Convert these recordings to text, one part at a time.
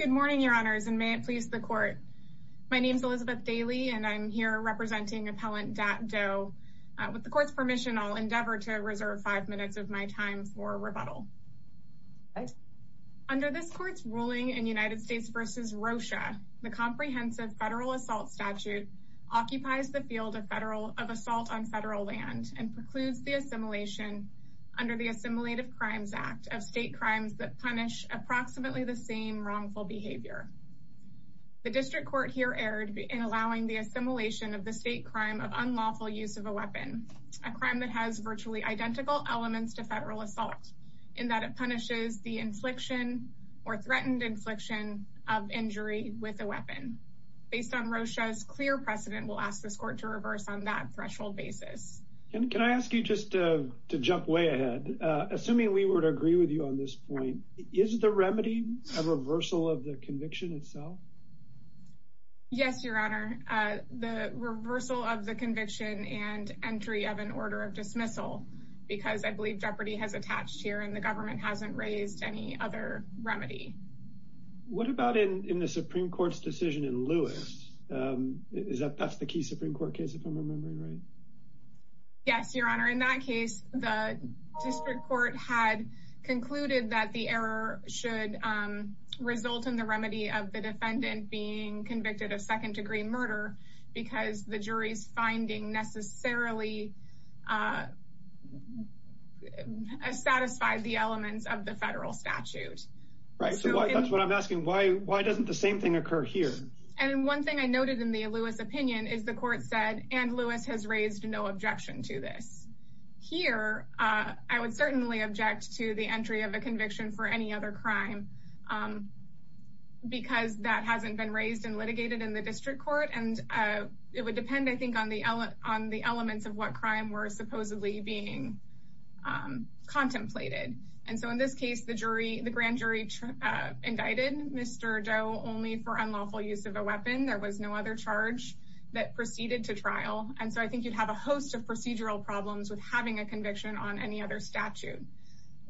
Good morning, your honors and may it please the court. My name is Elizabeth Daly and I'm here representing Appellant Dat Do. With the court's permission, I'll endeavor to reserve five minutes of my time for rebuttal. Under this court's ruling in United States v. Rocha, the comprehensive federal assault statute occupies the field of assault on federal land and precludes the assimilation under the Assimilative Crimes Act of state crimes that punish approximately the same wrongful behavior. The district court here erred in allowing the assimilation of the state crime of unlawful use of a weapon, a crime that has virtually identical elements to federal assault, in that it punishes the infliction or threatened infliction of injury with a weapon. Based on Rocha's clear precedent, we'll ask this court to reverse on that threshold basis. Can I ask you just to jump way ahead? Assuming we were to agree with you on this point, is the remedy a reversal of the conviction itself? Yes, your honor. The reversal of the conviction and entry of an order of dismissal because I believe jeopardy has attached here and the government hasn't raised any other remedy. What about in the Supreme Court's decision in Lewis? That's the key Supreme Court case, if I'm remembering right? Yes, your honor. In that case, the district court had concluded that the error should result in the remedy of the defendant being convicted of second degree murder because the jury's finding necessarily satisfied the elements of the federal statute. Right, so that's what I'm asking. Why doesn't the same thing occur here? And one thing I noted in the Lewis opinion is the court said and Lewis has raised no objection to this. Here, I would certainly object to the entry of a conviction for any other crime because that hasn't been raised and litigated in the district court and it would depend, I think, on the elements of what crime were supposedly being contemplated. And so in this case, the grand jury indicted Mr. Doe only for unlawful use of a weapon. There was no other charge that proceeded to trial. And so I think you'd have a host of procedural problems with having a conviction on any other statute.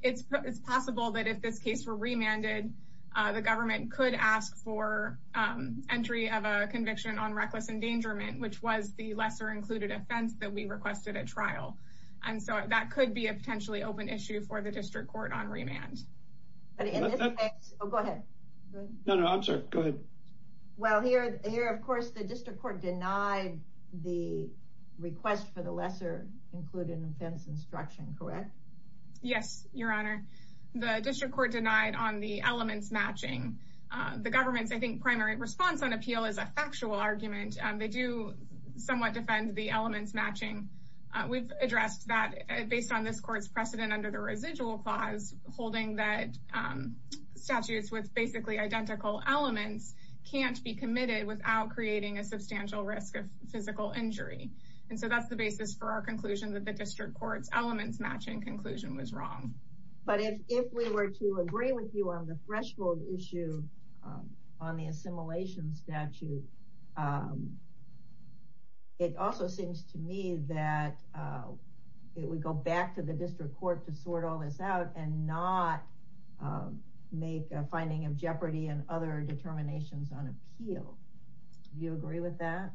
It's possible that if this case were remanded, the government could ask for entry of a conviction on reckless endangerment, which was the lesser included offense that we requested at trial. And so that could be a potentially open issue for the district court on remand. But in this case, oh, go ahead. No, no, I'm sorry. Go ahead. Well, here, here, of course, the district court denied the request for the lesser included offense instruction, correct? Yes, Your Honor. The district court denied on the elements matching the government's, I think, primary response on appeal is a factual argument. They do somewhat defend the elements matching. We've addressed that based on this court's precedent under the residual clause, holding that statutes with basically identical elements can't be committed without creating a substantial risk of physical injury. And so that's the basis for our conclusion that the district court's elements matching conclusion was wrong. But if we were to agree with you on the threshold issue on the assimilation statute, it also seems to me that it would go back to the district court to sort all this out and not make a finding of jeopardy and other determinations on appeal. Do you agree with that?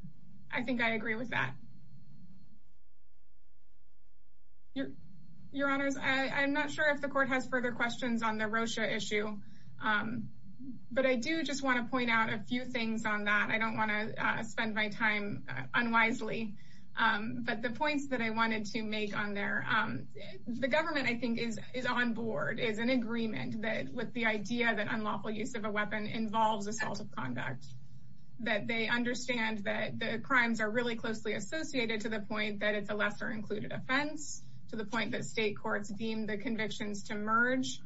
I think I agree with that. Your Honor, I'm not sure if the court has further questions on the Rosha issue, but I do just want to point out a few things on that. I don't want to spend my time unwisely, but the points that I wanted to make on there. The government, I think, is on board, is in agreement with the idea that unlawful use of a weapon involves assault of conduct, that they understand that the crimes are really closely associated to the point that it's a lesser included offense, to the point that state courts deem the convictions to merge.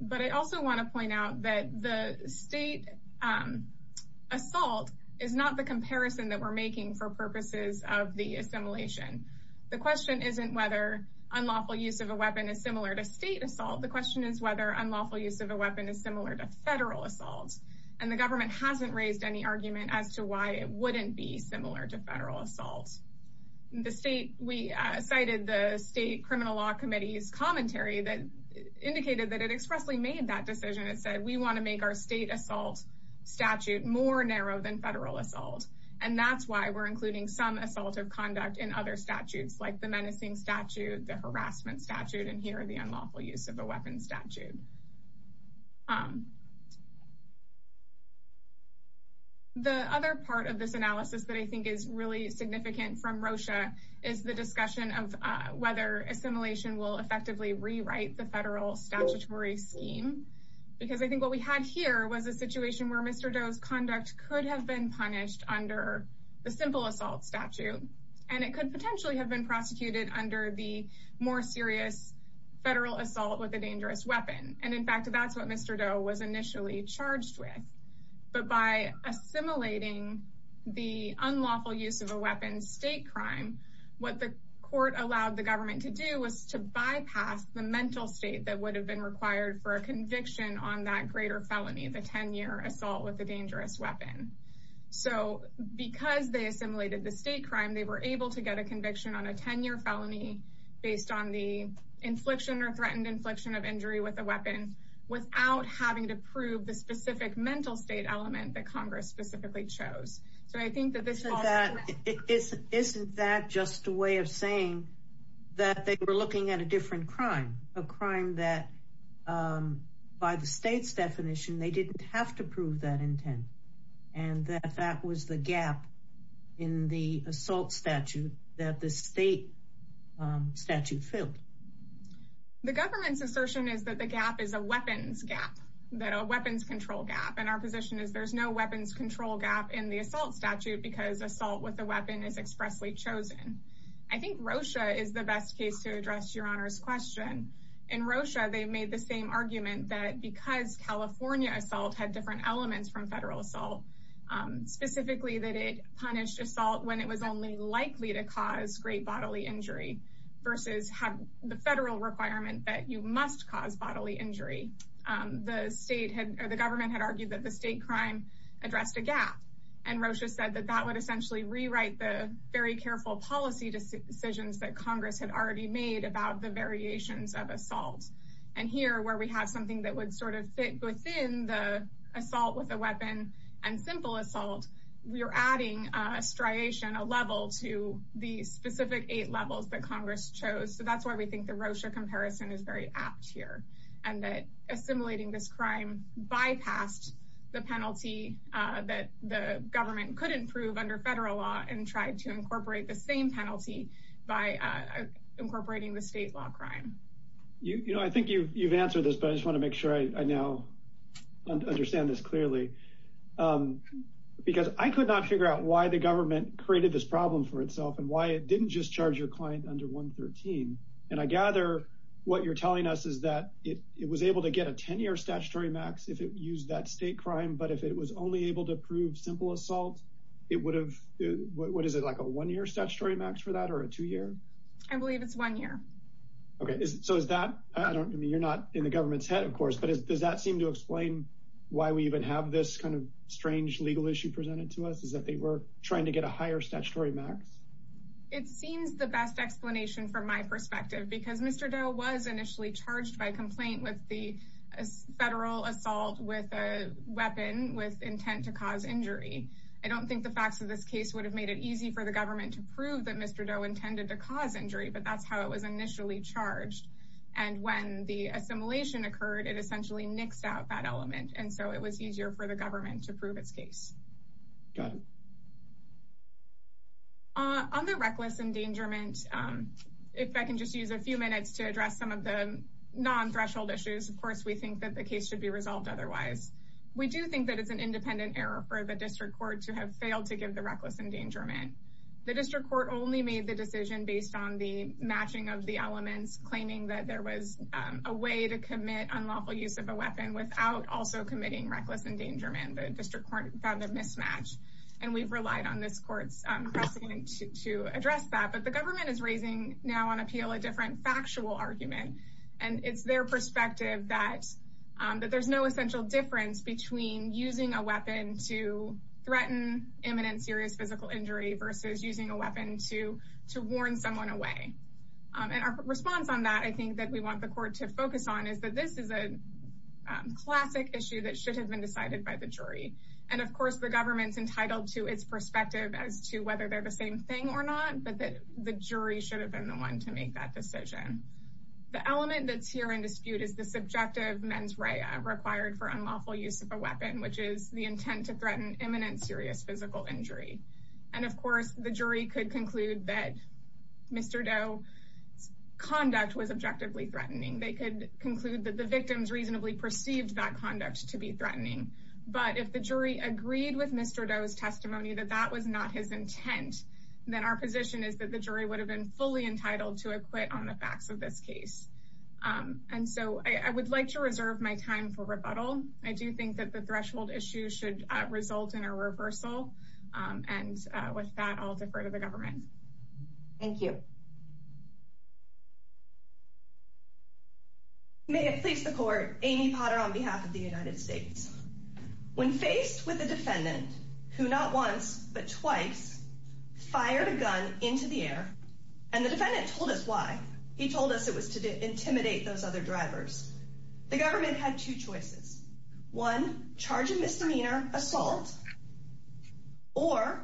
But I also want to point out that the state assault is not the comparison that we're making for purposes of the assimilation. The question isn't whether unlawful use of a weapon is similar to state assault. The question is whether unlawful use of a weapon is similar to federal assault. And the government hasn't raised any argument as to why it wouldn't be similar to federal assault. We cited the state criminal law committee's commentary that indicated that it expressly made that decision. It said, we want to make our state assault statute more narrow than federal assault. And that's why we're including some assault of conduct in other statutes, like the menacing statute, the harassment statute, and here are the unlawful use of a weapon statute. The other part of this analysis that I think is really significant from Rosha is the discussion of whether assimilation will effectively rewrite the federal statutory scheme. Because I think what we had here was a situation where Mr. Doe's conduct could have been punished under the simple assault statute. And it could potentially have been prosecuted under the more serious federal assault with a dangerous weapon. And in fact, that's what Mr. Doe was initially charged with. But by assimilating the unlawful use of a weapon state crime, what the court allowed the government to do was to bypass the mental state that would have been required for a conviction on that greater felony, the 10-year assault with a dangerous weapon. So because they assimilated the state crime, they were able to get a conviction on a 10-year felony based on the infliction or threatened infliction of injury with a weapon without having to prove the specific mental state element that Congress specifically chose. Isn't that just a way of saying that they were looking at a different crime, a crime that by the state's definition they didn't have to prove that intent, and that that was the gap in the assault statute that the state statute filled? The government's assertion is that the gap is a weapons gap, that a weapons control gap. And our position is there's no weapons control gap in the assault statute because assault with a weapon is expressly chosen. I think Rosha is the best case to address Your Honor's question. In Rosha, they made the same argument that because California assault had different elements from federal assault, specifically that it punished assault when it was only likely to cause great bodily injury versus have the federal requirement that you must cause bodily injury. The government had argued that the state crime addressed a gap, and Rosha said that that would essentially rewrite the very careful policy decisions that Congress had already made about the variations of assault. And here, where we have something that would sort of fit within the assault with a weapon and simple assault, we are adding a striation, a level, to the specific eight levels that Congress chose. So that's why we think the Rosha comparison is very apt here, and that assimilating this crime bypassed the penalty that the government could improve under federal law and tried to incorporate the same penalty by incorporating the state law crime. You know, I think you've answered this, but I just want to make sure I now understand this clearly. Because I could not figure out why the government created this problem for itself and why it didn't just charge your client under 113. And I gather what you're telling us is that it was able to get a 10-year statutory max if it used that state crime, but if it was only able to prove simple assault, it would have—what is it, like a one-year statutory max for that or a two-year? I believe it's one year. Okay, so is that—I mean, you're not in the government's head, of course, but does that seem to explain why we even have this kind of strange legal issue presented to us, is that they were trying to get a higher statutory max? It seems the best explanation from my perspective, because Mr. Doe was initially charged by complaint with the federal assault with a weapon with intent to cause injury. I don't think the facts of this case would have made it easy for the government to prove that Mr. Doe intended to cause injury, but that's how it was initially charged. And when the assimilation occurred, it essentially nixed out that element, and so it was easier for the government to prove its case. Got it. On the reckless endangerment, if I can just use a few minutes to address some of the non-threshold issues, of course, we think that the case should be resolved otherwise. We do think that it's an independent error for the district court to have failed to give the reckless endangerment. The district court only made the decision based on the matching of the elements, claiming that there was a way to commit unlawful use of a weapon without also committing reckless endangerment. The district court found a mismatch, and we've relied on this court's precedent to address that. But the government is raising now on appeal a different factual argument, and it's their perspective that there's no essential difference between using a weapon to threaten imminent serious physical injury versus using a weapon to warn someone away. And our response on that, I think, that we want the court to focus on is that this is a classic issue that should have been decided by the jury. And, of course, the government's entitled to its perspective as to whether they're the same thing or not, but the jury should have been the one to make that decision. The element that's here in dispute is the subjective mens rea required for unlawful use of a weapon, which is the intent to threaten imminent serious physical injury. And, of course, the jury could conclude that Mr. Doe's conduct was objectively threatening. They could conclude that the victims reasonably perceived that conduct to be threatening. But if the jury agreed with Mr. Doe's testimony that that was not his intent, then our position is that the jury would have been fully entitled to acquit on the facts of this case. And so I would like to reserve my time for rebuttal. I do think that the threshold issue should result in a reversal. And with that, I'll defer to the government. Thank you. May it please the court, Amy Potter on behalf of the United States. When faced with a defendant who not once but twice fired a gun into the air, and the defendant told us why. He told us it was to intimidate those other drivers. The government had two choices. One, charge a misdemeanor assault. Or,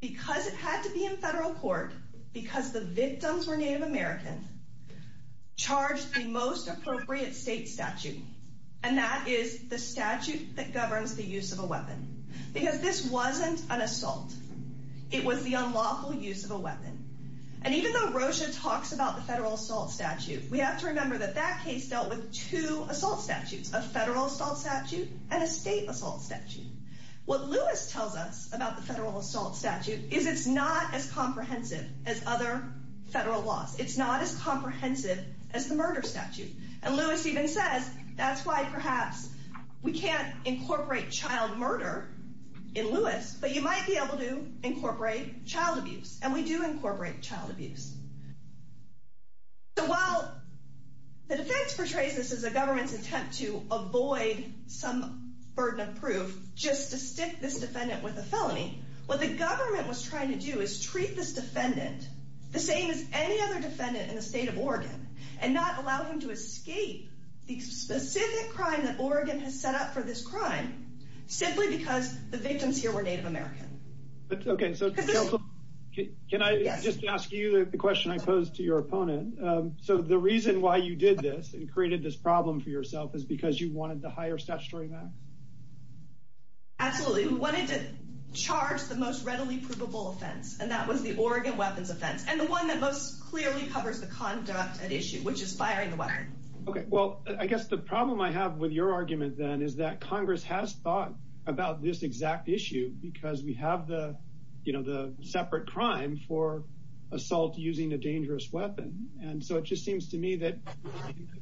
because it had to be in federal court, because the victims were Native American, charge the most appropriate state statute. And that is the statute that governs the use of a weapon. Because this wasn't an assault. It was the unlawful use of a weapon. And even though Rocha talks about the federal assault statute, we have to remember that that case dealt with two assault statutes. A federal assault statute and a state assault statute. What Lewis tells us about the federal assault statute is it's not as comprehensive as other federal laws. It's not as comprehensive as the murder statute. And Lewis even says, that's why perhaps we can't incorporate child murder in Lewis, but you might be able to incorporate child abuse. And we do incorporate child abuse. So while the defense portrays this as a government's attempt to avoid some burden of proof just to stick this defendant with a felony, what the government was trying to do is treat this defendant the same as any other defendant in the state of Oregon, and not allow him to escape the specific crime that Oregon has set up for this crime, simply because the victims here were Native American. Okay, so counsel, can I just ask you the question I posed to your opponent? So the reason why you did this and created this problem for yourself is because you wanted to hire statutory max? Absolutely. We wanted to charge the most readily provable offense. And that was the Oregon weapons offense. And the one that most clearly covers the conduct at issue, which is firing the weapon. Okay, well, I guess the problem I have with your argument, then, is that Congress has thought about this exact issue, because we have the separate crime for assault using a dangerous weapon. And so it just seems to me that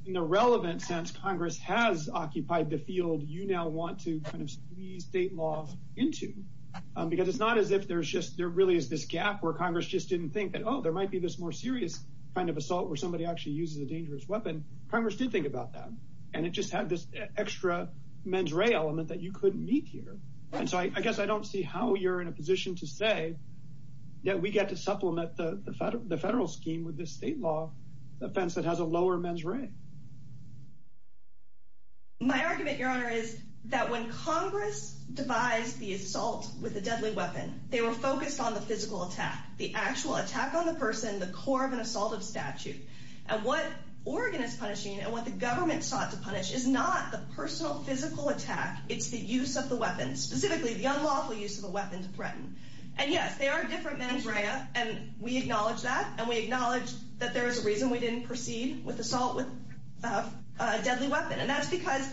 in the relevant sense, Congress has occupied the field you now want to squeeze state law into. Because it's not as if there really is this gap where Congress just didn't think that, well, there might be this more serious kind of assault where somebody actually uses a dangerous weapon. Congress did think about that. And it just had this extra mens rea element that you couldn't meet here. And so I guess I don't see how you're in a position to say that we get to supplement the federal scheme with this state law offense that has a lower mens rea. My argument, Your Honor, is that when Congress devised the assault with a deadly weapon, they were focused on the physical attack, the actual attack on the person, the core of an assaultive statute. And what Oregon is punishing and what the government sought to punish is not the personal physical attack. It's the use of the weapon, specifically the unlawful use of a weapon to threaten. And, yes, there are different mens rea. And we acknowledge that. And we acknowledge that there is a reason we didn't proceed with assault with a deadly weapon. And that's because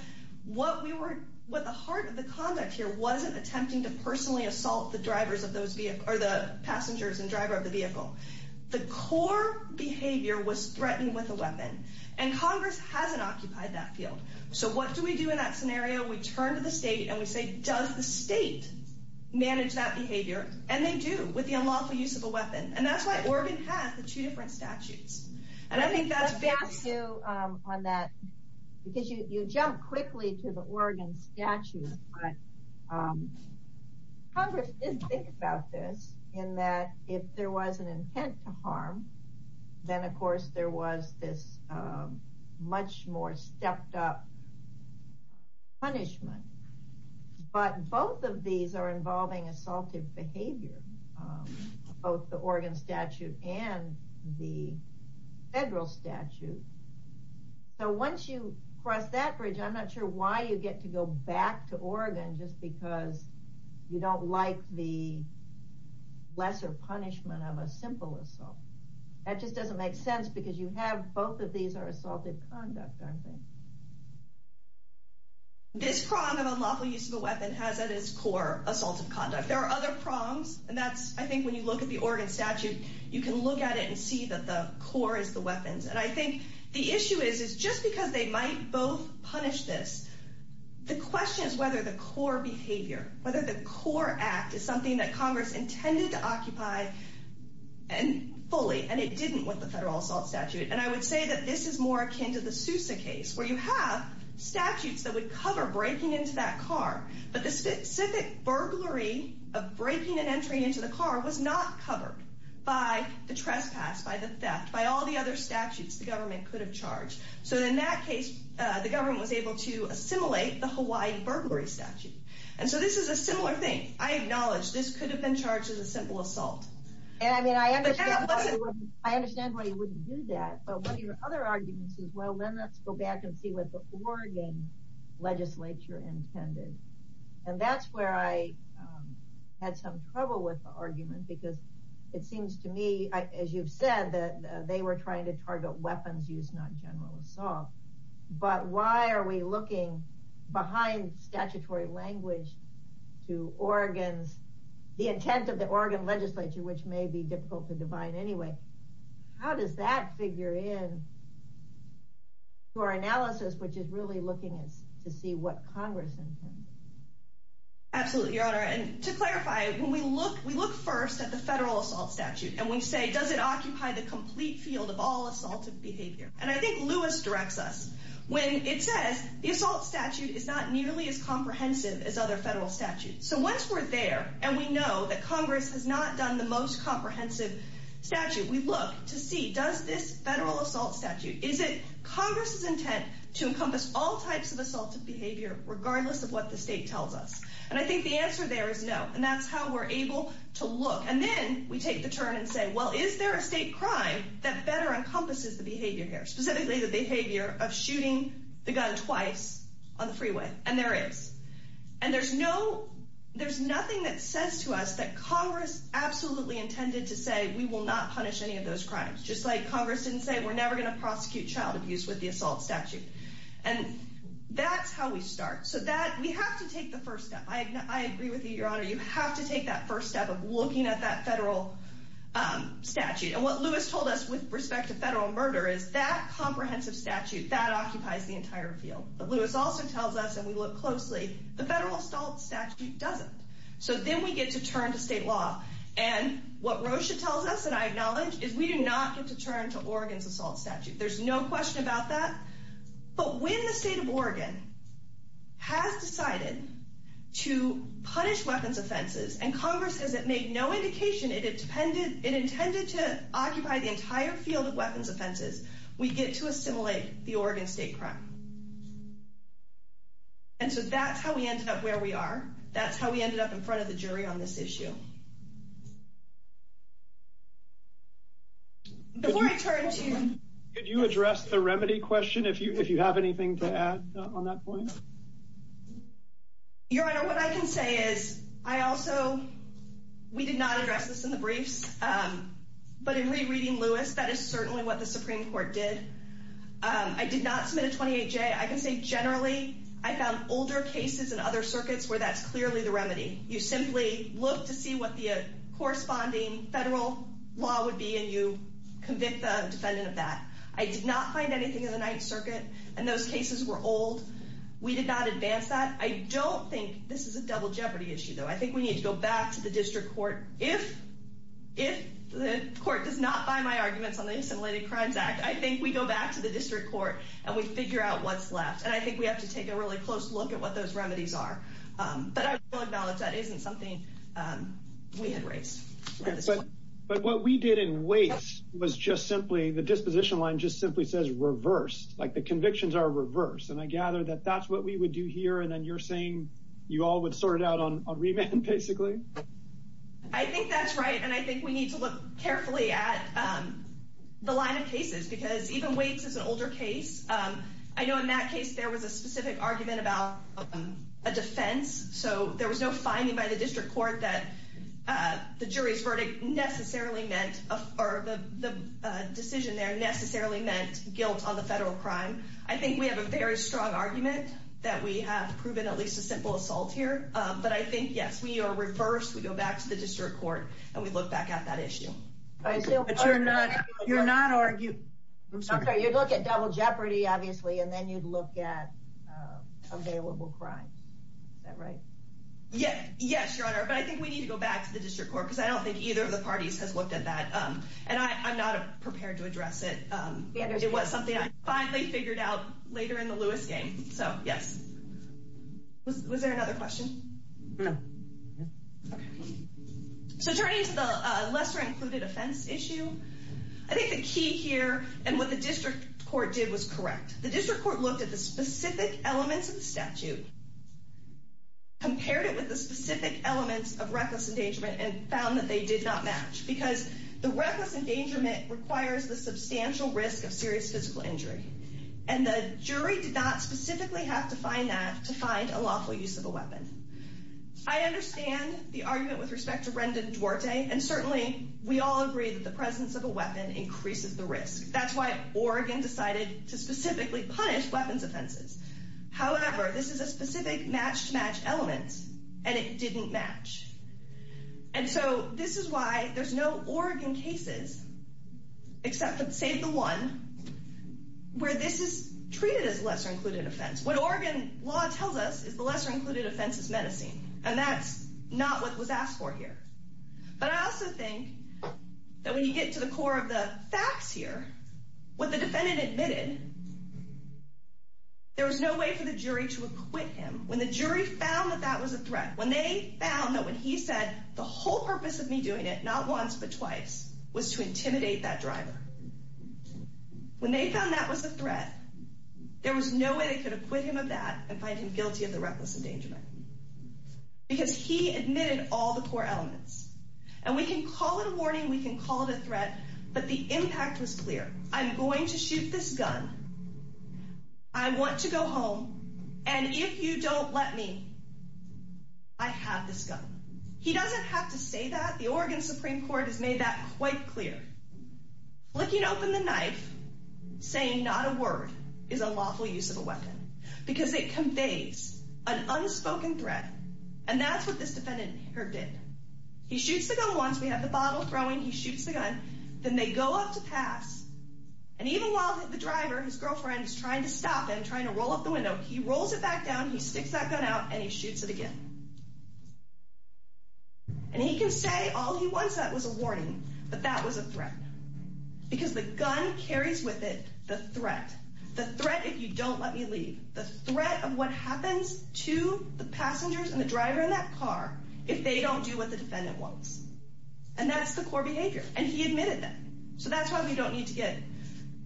what the heart of the conduct here wasn't attempting to personally assault the passengers and driver of the vehicle. The core behavior was threatened with a weapon. And Congress hasn't occupied that field. So what do we do in that scenario? We turn to the state and we say, does the state manage that behavior? And they do with the unlawful use of a weapon. And that's why Oregon has the two different statutes. And I think that's based on that because you jump quickly to the Oregon statute. But Congress did think about this in that if there was an intent to harm, then, of course, there was this much more stepped up punishment. But both of these are involving assaultive behavior, both the Oregon statute and the federal statute. So once you cross that bridge, I'm not sure why you get to go back to Oregon just because you don't like the lesser punishment of a simple assault. That just doesn't make sense because you have both of these are assaultive conduct, aren't they? This prong of unlawful use of a weapon has at its core assaultive conduct. There are other prongs, and that's I think when you look at the Oregon statute, you can look at it and see that the core is the weapons. And I think the issue is, is just because they might both punish this, the question is whether the core behavior, whether the core act is something that Congress intended to occupy fully and it didn't with the federal assault statute. And I would say that this is more akin to the Sousa case where you have statutes that would cover breaking into that car. But the specific burglary of breaking and entering into the car was not covered by the trespass, by the theft, by all the other statutes the government could have charged. So in that case, the government was able to assimilate the Hawaii burglary statute. And so this is a similar thing. I acknowledge this could have been charged as a simple assault. I understand why you wouldn't do that. But one of your other arguments is, well, then let's go back and see what the Oregon legislature intended. And that's where I had some trouble with the argument because it seems to me, as you've said, that they were trying to target weapons use, not general assault. But why are we looking behind statutory language to Oregon's, the intent of the Oregon legislature, which may be difficult to define anyway? How does that figure in to our analysis, which is really looking to see what Congress intended? Absolutely, Your Honor. And to clarify, when we look, we look first at the federal assault statute and we say, does it occupy the complete field of all assaultive behavior? And I think Lewis directs us when it says the assault statute is not nearly as comprehensive as other federal statutes. So once we're there and we know that Congress has not done the most comprehensive statute, we look to see, does this federal assault statute, is it Congress's intent to encompass all types of assaultive behavior, regardless of what the state tells us? And I think the answer there is no. And that's how we're able to look. And then we take the turn and say, well, is there a state crime that better encompasses the behavior here, specifically the behavior of shooting the gun twice on the freeway? And there is. And there's no there's nothing that says to us that Congress absolutely intended to say we will not punish any of those crimes, just like Congress didn't say we're never going to prosecute child abuse with the assault statute. And that's how we start. So that we have to take the first step. I agree with you, Your Honor. You have to take that first step of looking at that federal statute. And what Lewis told us with respect to federal murder is that comprehensive statute, that occupies the entire field. But Lewis also tells us, and we look closely, the federal assault statute doesn't. So then we get to turn to state law. And what Rocha tells us, and I acknowledge, is we do not get to turn to Oregon's assault statute. There's no question about that. But when the state of Oregon has decided to punish weapons offenses, and Congress says it made no indication it intended to occupy the entire field of weapons offenses, we get to assimilate the Oregon state crime. And so that's how we ended up where we are. That's how we ended up in front of the jury on this issue. Before I turn to you, could you address the remedy question, if you have anything to add on that point? Your Honor, what I can say is, I also, we did not address this in the briefs, but in rereading Lewis, that is certainly what the Supreme Court did. I did not submit a 28-J. I can say generally, I found older cases in other circuits where that's clearly the remedy. You simply look to see what the corresponding federal law would be, and you convict the defendant of that. I did not find anything in the Ninth Circuit, and those cases were old. We did not advance that. I don't think this is a double jeopardy issue, though. I think we need to go back to the district court. If the court does not buy my arguments on the Assimilated Crimes Act, I think we go back to the district court, and we figure out what's left. And I think we have to take a really close look at what those remedies are. But I will acknowledge that isn't something we had raised. But what we did in Waits was just simply, the disposition line just simply says reversed. Like, the convictions are reversed. And I gather that that's what we would do here, and then you're saying you all would sort it out on remand, basically? I think that's right, and I think we need to look carefully at the line of cases, because even Waits is an older case. I know in that case there was a specific argument about a defense, so there was no finding by the district court that the jury's verdict necessarily meant, or the decision there necessarily meant guilt on the federal crime. I think we have a very strong argument that we have proven at least a simple assault here. But I think, yes, we are reversed. We go back to the district court, and we look back at that issue. But you're not arguing. You'd look at double jeopardy, obviously, and then you'd look at available crimes. Is that right? Yes, Your Honor, but I think we need to go back to the district court, because I don't think either of the parties has looked at that. And I'm not prepared to address it. It was something I finally figured out later in the Lewis game. So, yes. Was there another question? No. So turning to the lesser-included offense issue, I think the key here and what the district court did was correct. The district court looked at the specific elements of the statute, compared it with the specific elements of reckless endangerment, and found that they did not match, because the reckless endangerment requires the substantial risk of serious physical injury. And the jury did not specifically have to find that to find a lawful use of a weapon. I understand the argument with respect to Rendon Duarte, and certainly we all agree that the presence of a weapon increases the risk. That's why Oregon decided to specifically punish weapons offenses. However, this is a specific match-to-match element, and it didn't match. And so this is why there's no Oregon cases, except save the one, where this is treated as a lesser-included offense. What Oregon law tells us is the lesser-included offense is menacing, and that's not what was asked for here. But I also think that when you get to the core of the facts here, what the defendant admitted, there was no way for the jury to acquit him. When the jury found that that was a threat, when they found that when he said the whole purpose of me doing it, not once but twice, was to intimidate that driver, when they found that was a threat, there was no way they could acquit him of that and find him guilty of the reckless endangerment. Because he admitted all the core elements. And we can call it a warning, we can call it a threat, but the impact was clear. I'm going to shoot this gun. I want to go home. And if you don't let me, I have this gun. He doesn't have to say that. The Oregon Supreme Court has made that quite clear. Flicking open the knife, saying not a word, is a lawful use of a weapon. Because it conveys an unspoken threat. And that's what this defendant did. He shoots the gun once, we have the bottle throwing, he shoots the gun. Then they go up to pass. And even while the driver, his girlfriend, is trying to stop him, trying to roll up the window, he rolls it back down, he sticks that gun out, and he shoots it again. And he can say all he wants, that was a warning. But that was a threat. Because the gun carries with it the threat. The threat if you don't let me leave. The threat of what happens to the passengers and the driver in that car if they don't do what the defendant wants. And that's the core behavior. And he admitted that. So that's why we don't need to get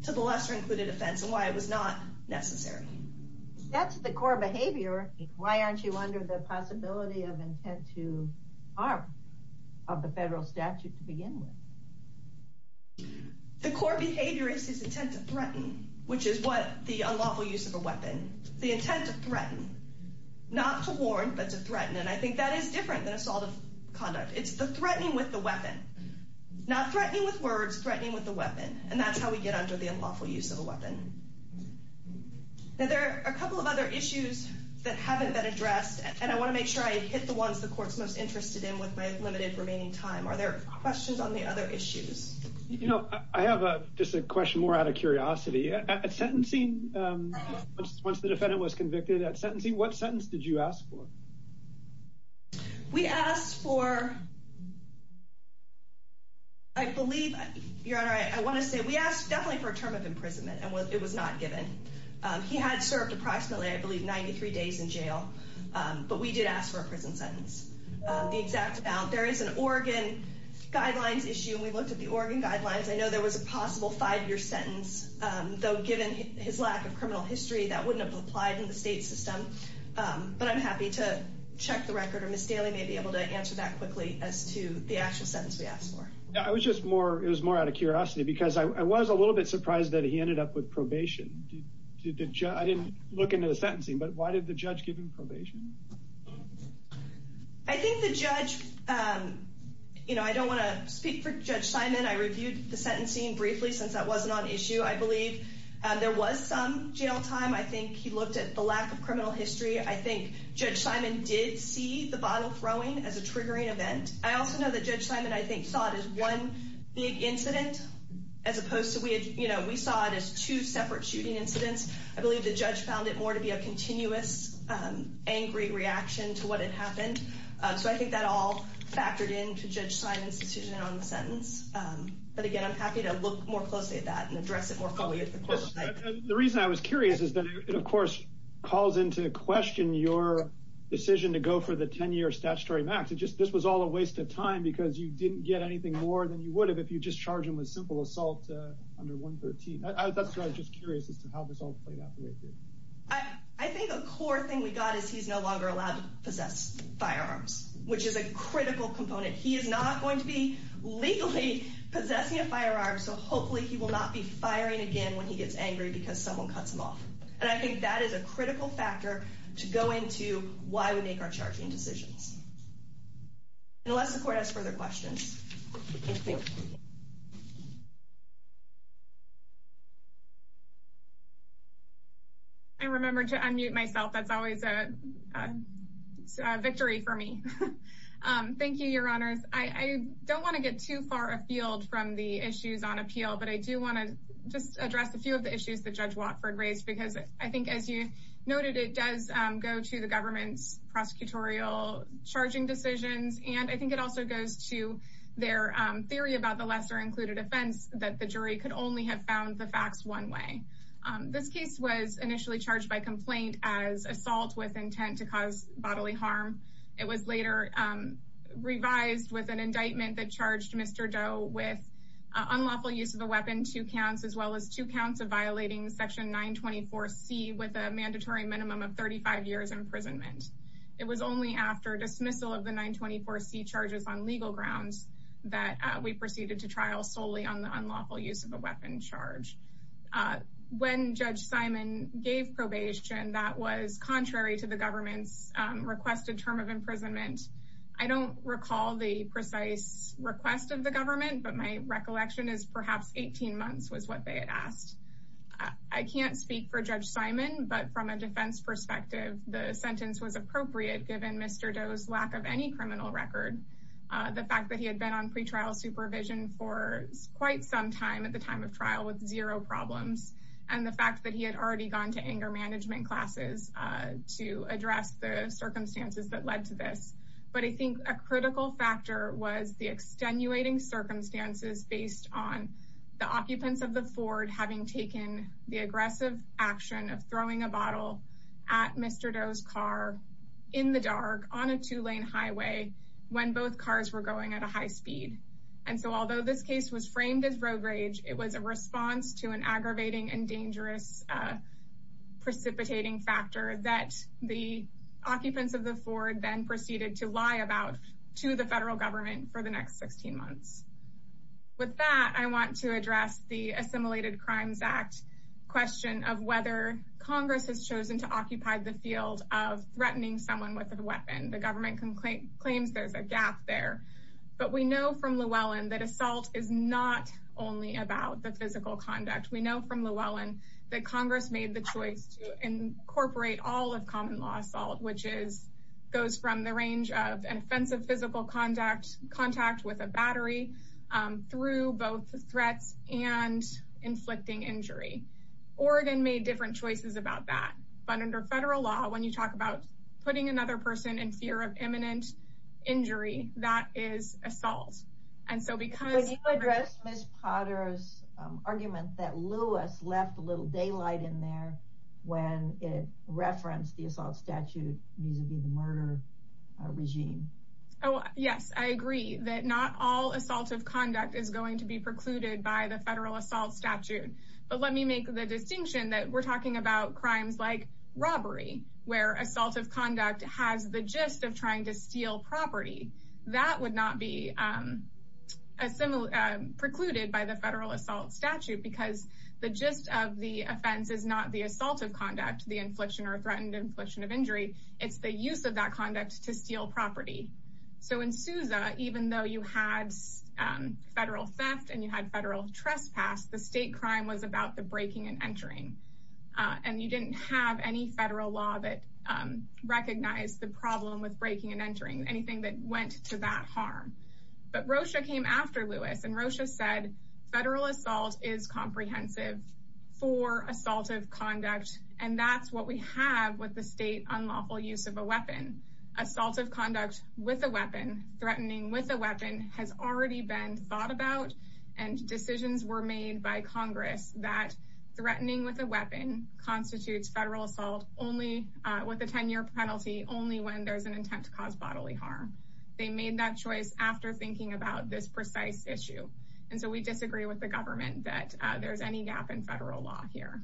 to the lesser included offense and why it was not necessary. That's the core behavior. Why aren't you under the possibility of intent to harm of the federal statute to begin with? The core behavior is his intent to threaten, which is what the unlawful use of a weapon. The intent to threaten. Not to warn, but to threaten. And I think that is different than assault of conduct. It's the threatening with the weapon. Not threatening with words, threatening with the weapon. And that's how we get under the unlawful use of a weapon. Now there are a couple of other issues that haven't been addressed, and I want to make sure I hit the ones the court's most interested in with my limited remaining time. Are there questions on the other issues? You know, I have just a question more out of curiosity. At sentencing, once the defendant was convicted at sentencing, what sentence did you ask for? We asked for, I believe, Your Honor, I want to say, we asked definitely for a term of imprisonment, and it was not given. He had served approximately, I believe, 93 days in jail. But we did ask for a prison sentence. The exact amount. There is an Oregon guidelines issue, and we looked at the Oregon guidelines. I know there was a possible five-year sentence, though given his lack of criminal history, that wouldn't have applied in the state system. But I'm happy to check the record, or Ms. Daly may be able to answer that quickly as to the actual sentence we asked for. I was just more out of curiosity, because I was a little bit surprised that he ended up with probation. I didn't look into the sentencing, but why did the judge give him probation? I think the judge, you know, I don't want to speak for Judge Simon. I reviewed the sentencing briefly since that wasn't on issue. I believe there was some jail time. I think he looked at the lack of criminal history. I think Judge Simon did see the bottle throwing as a triggering event. I also know that Judge Simon, I think, saw it as one big incident as opposed to, you know, we saw it as two separate shooting incidents. I believe the judge found it more to be a continuous angry reaction to what had happened. So I think that all factored into Judge Simon's decision on the sentence. But again, I'm happy to look more closely at that and address it more fully at the court. The reason I was curious is that it, of course, calls into question your decision to go for the 10-year statutory max. This was all a waste of time, because you didn't get anything more than you would have if you just charged him with simple assault under 113. That's why I was just curious as to how this all played out for you. I think the core thing we got is he's no longer allowed to possess firearms, which is a critical component. He is not going to be legally possessing a firearm, so hopefully he will not be firing again when he gets angry because someone cuts him off. And I think that is a critical factor to go into why we make our charging decisions. Unless the court has further questions. I remembered to unmute myself. That's always a victory for me. Thank you, Your Honors. I don't want to get too far afield from the issues on appeal, but I do want to just address a few of the issues that Judge Watford raised, because I think, as you noted, it does go to the government's prosecutorial charging decisions, and I think it also goes to their theory about the lesser-included offense, that the jury could only have found the facts one way. This case was initially charged by complaint as assault with intent to cause bodily harm. It was later revised with an indictment that charged Mr. Doe with unlawful use of a weapon, two counts, as well as two counts of violating Section 924C with a mandatory minimum of 35 years imprisonment. It was only after dismissal of the 924C charges on legal grounds that we proceeded to trial solely on the unlawful use of a weapon charge. When Judge Simon gave probation, that was contrary to the government's requested term of imprisonment. I don't recall the precise request of the government, but my recollection is perhaps 18 months was what they had asked. I can't speak for Judge Simon, but from a defense perspective, the sentence was appropriate, given Mr. Doe's lack of any criminal record. The fact that he had been on pretrial supervision for quite some time at the time of trial with zero problems, and the fact that he had already gone to anger management classes to address the circumstances that led to this. But I think a critical factor was the extenuating circumstances based on the occupants of the Ford having taken the aggressive action of throwing a bottle at Mr. Doe's car in the dark on a two-lane highway when both cars were going at a high speed. And so although this case was framed as rogue rage, it was a response to an aggravating and dangerous precipitating factor that the occupants of the Ford then proceeded to lie about to the federal government for the next 16 months. With that, I want to address the Assimilated Crimes Act question of whether Congress has chosen to occupy the field of threatening someone with a weapon. The government claims there's a gap there. But we know from Llewellyn that assault is not only about the physical conduct. We know from Llewellyn that Congress made the choice to incorporate all of common law assault, which goes from the range of an offensive physical contact with a battery through both threats and inflicting injury. Oregon made different choices about that. But under federal law, when you talk about putting another person in fear of imminent injury, that is assault. Can you address Ms. Potter's argument that Lewis left a little daylight in there when it referenced the assault statute vis-à-vis the murder regime? Yes, I agree that not all assaultive conduct is going to be precluded by the federal assault statute. But let me make the distinction that we're talking about crimes like robbery, where assaultive conduct has the gist of trying to steal property. That would not be precluded by the federal assault statute because the gist of the offense is not the assaultive conduct, the infliction or threatened infliction of injury. It's the use of that conduct to steal property. So in Sousa, even though you had federal theft and you had federal trespass, the state crime was about the breaking and entering. And you didn't have any federal law that recognized the problem with breaking and entering, anything that went to that harm. But Rocha came after Lewis, and Rocha said, federal assault is comprehensive for assaultive conduct, and that's what we have with the state unlawful use of a weapon. Assaultive conduct with a weapon, threatening with a weapon, has already been thought about, and decisions were made by Congress that threatening with a weapon constitutes federal assault with a 10-year penalty only when there's an intent to cause bodily harm. They made that choice after thinking about this precise issue. And so we disagree with the government that there's any gap in federal law here.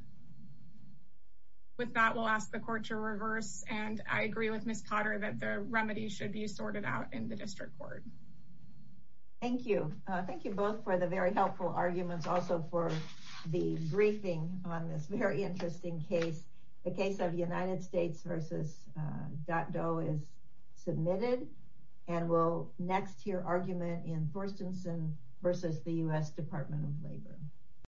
With that, we'll ask the court to reverse, and I agree with Ms. Potter that the remedy should be sorted out in the district court. Thank you. Thank you both for the very helpful arguments, also for the briefing on this very interesting case. The case of United States v. Dot Doe is submitted, and we'll next hear argument in Forstenson v. the U.S. Department of Labor.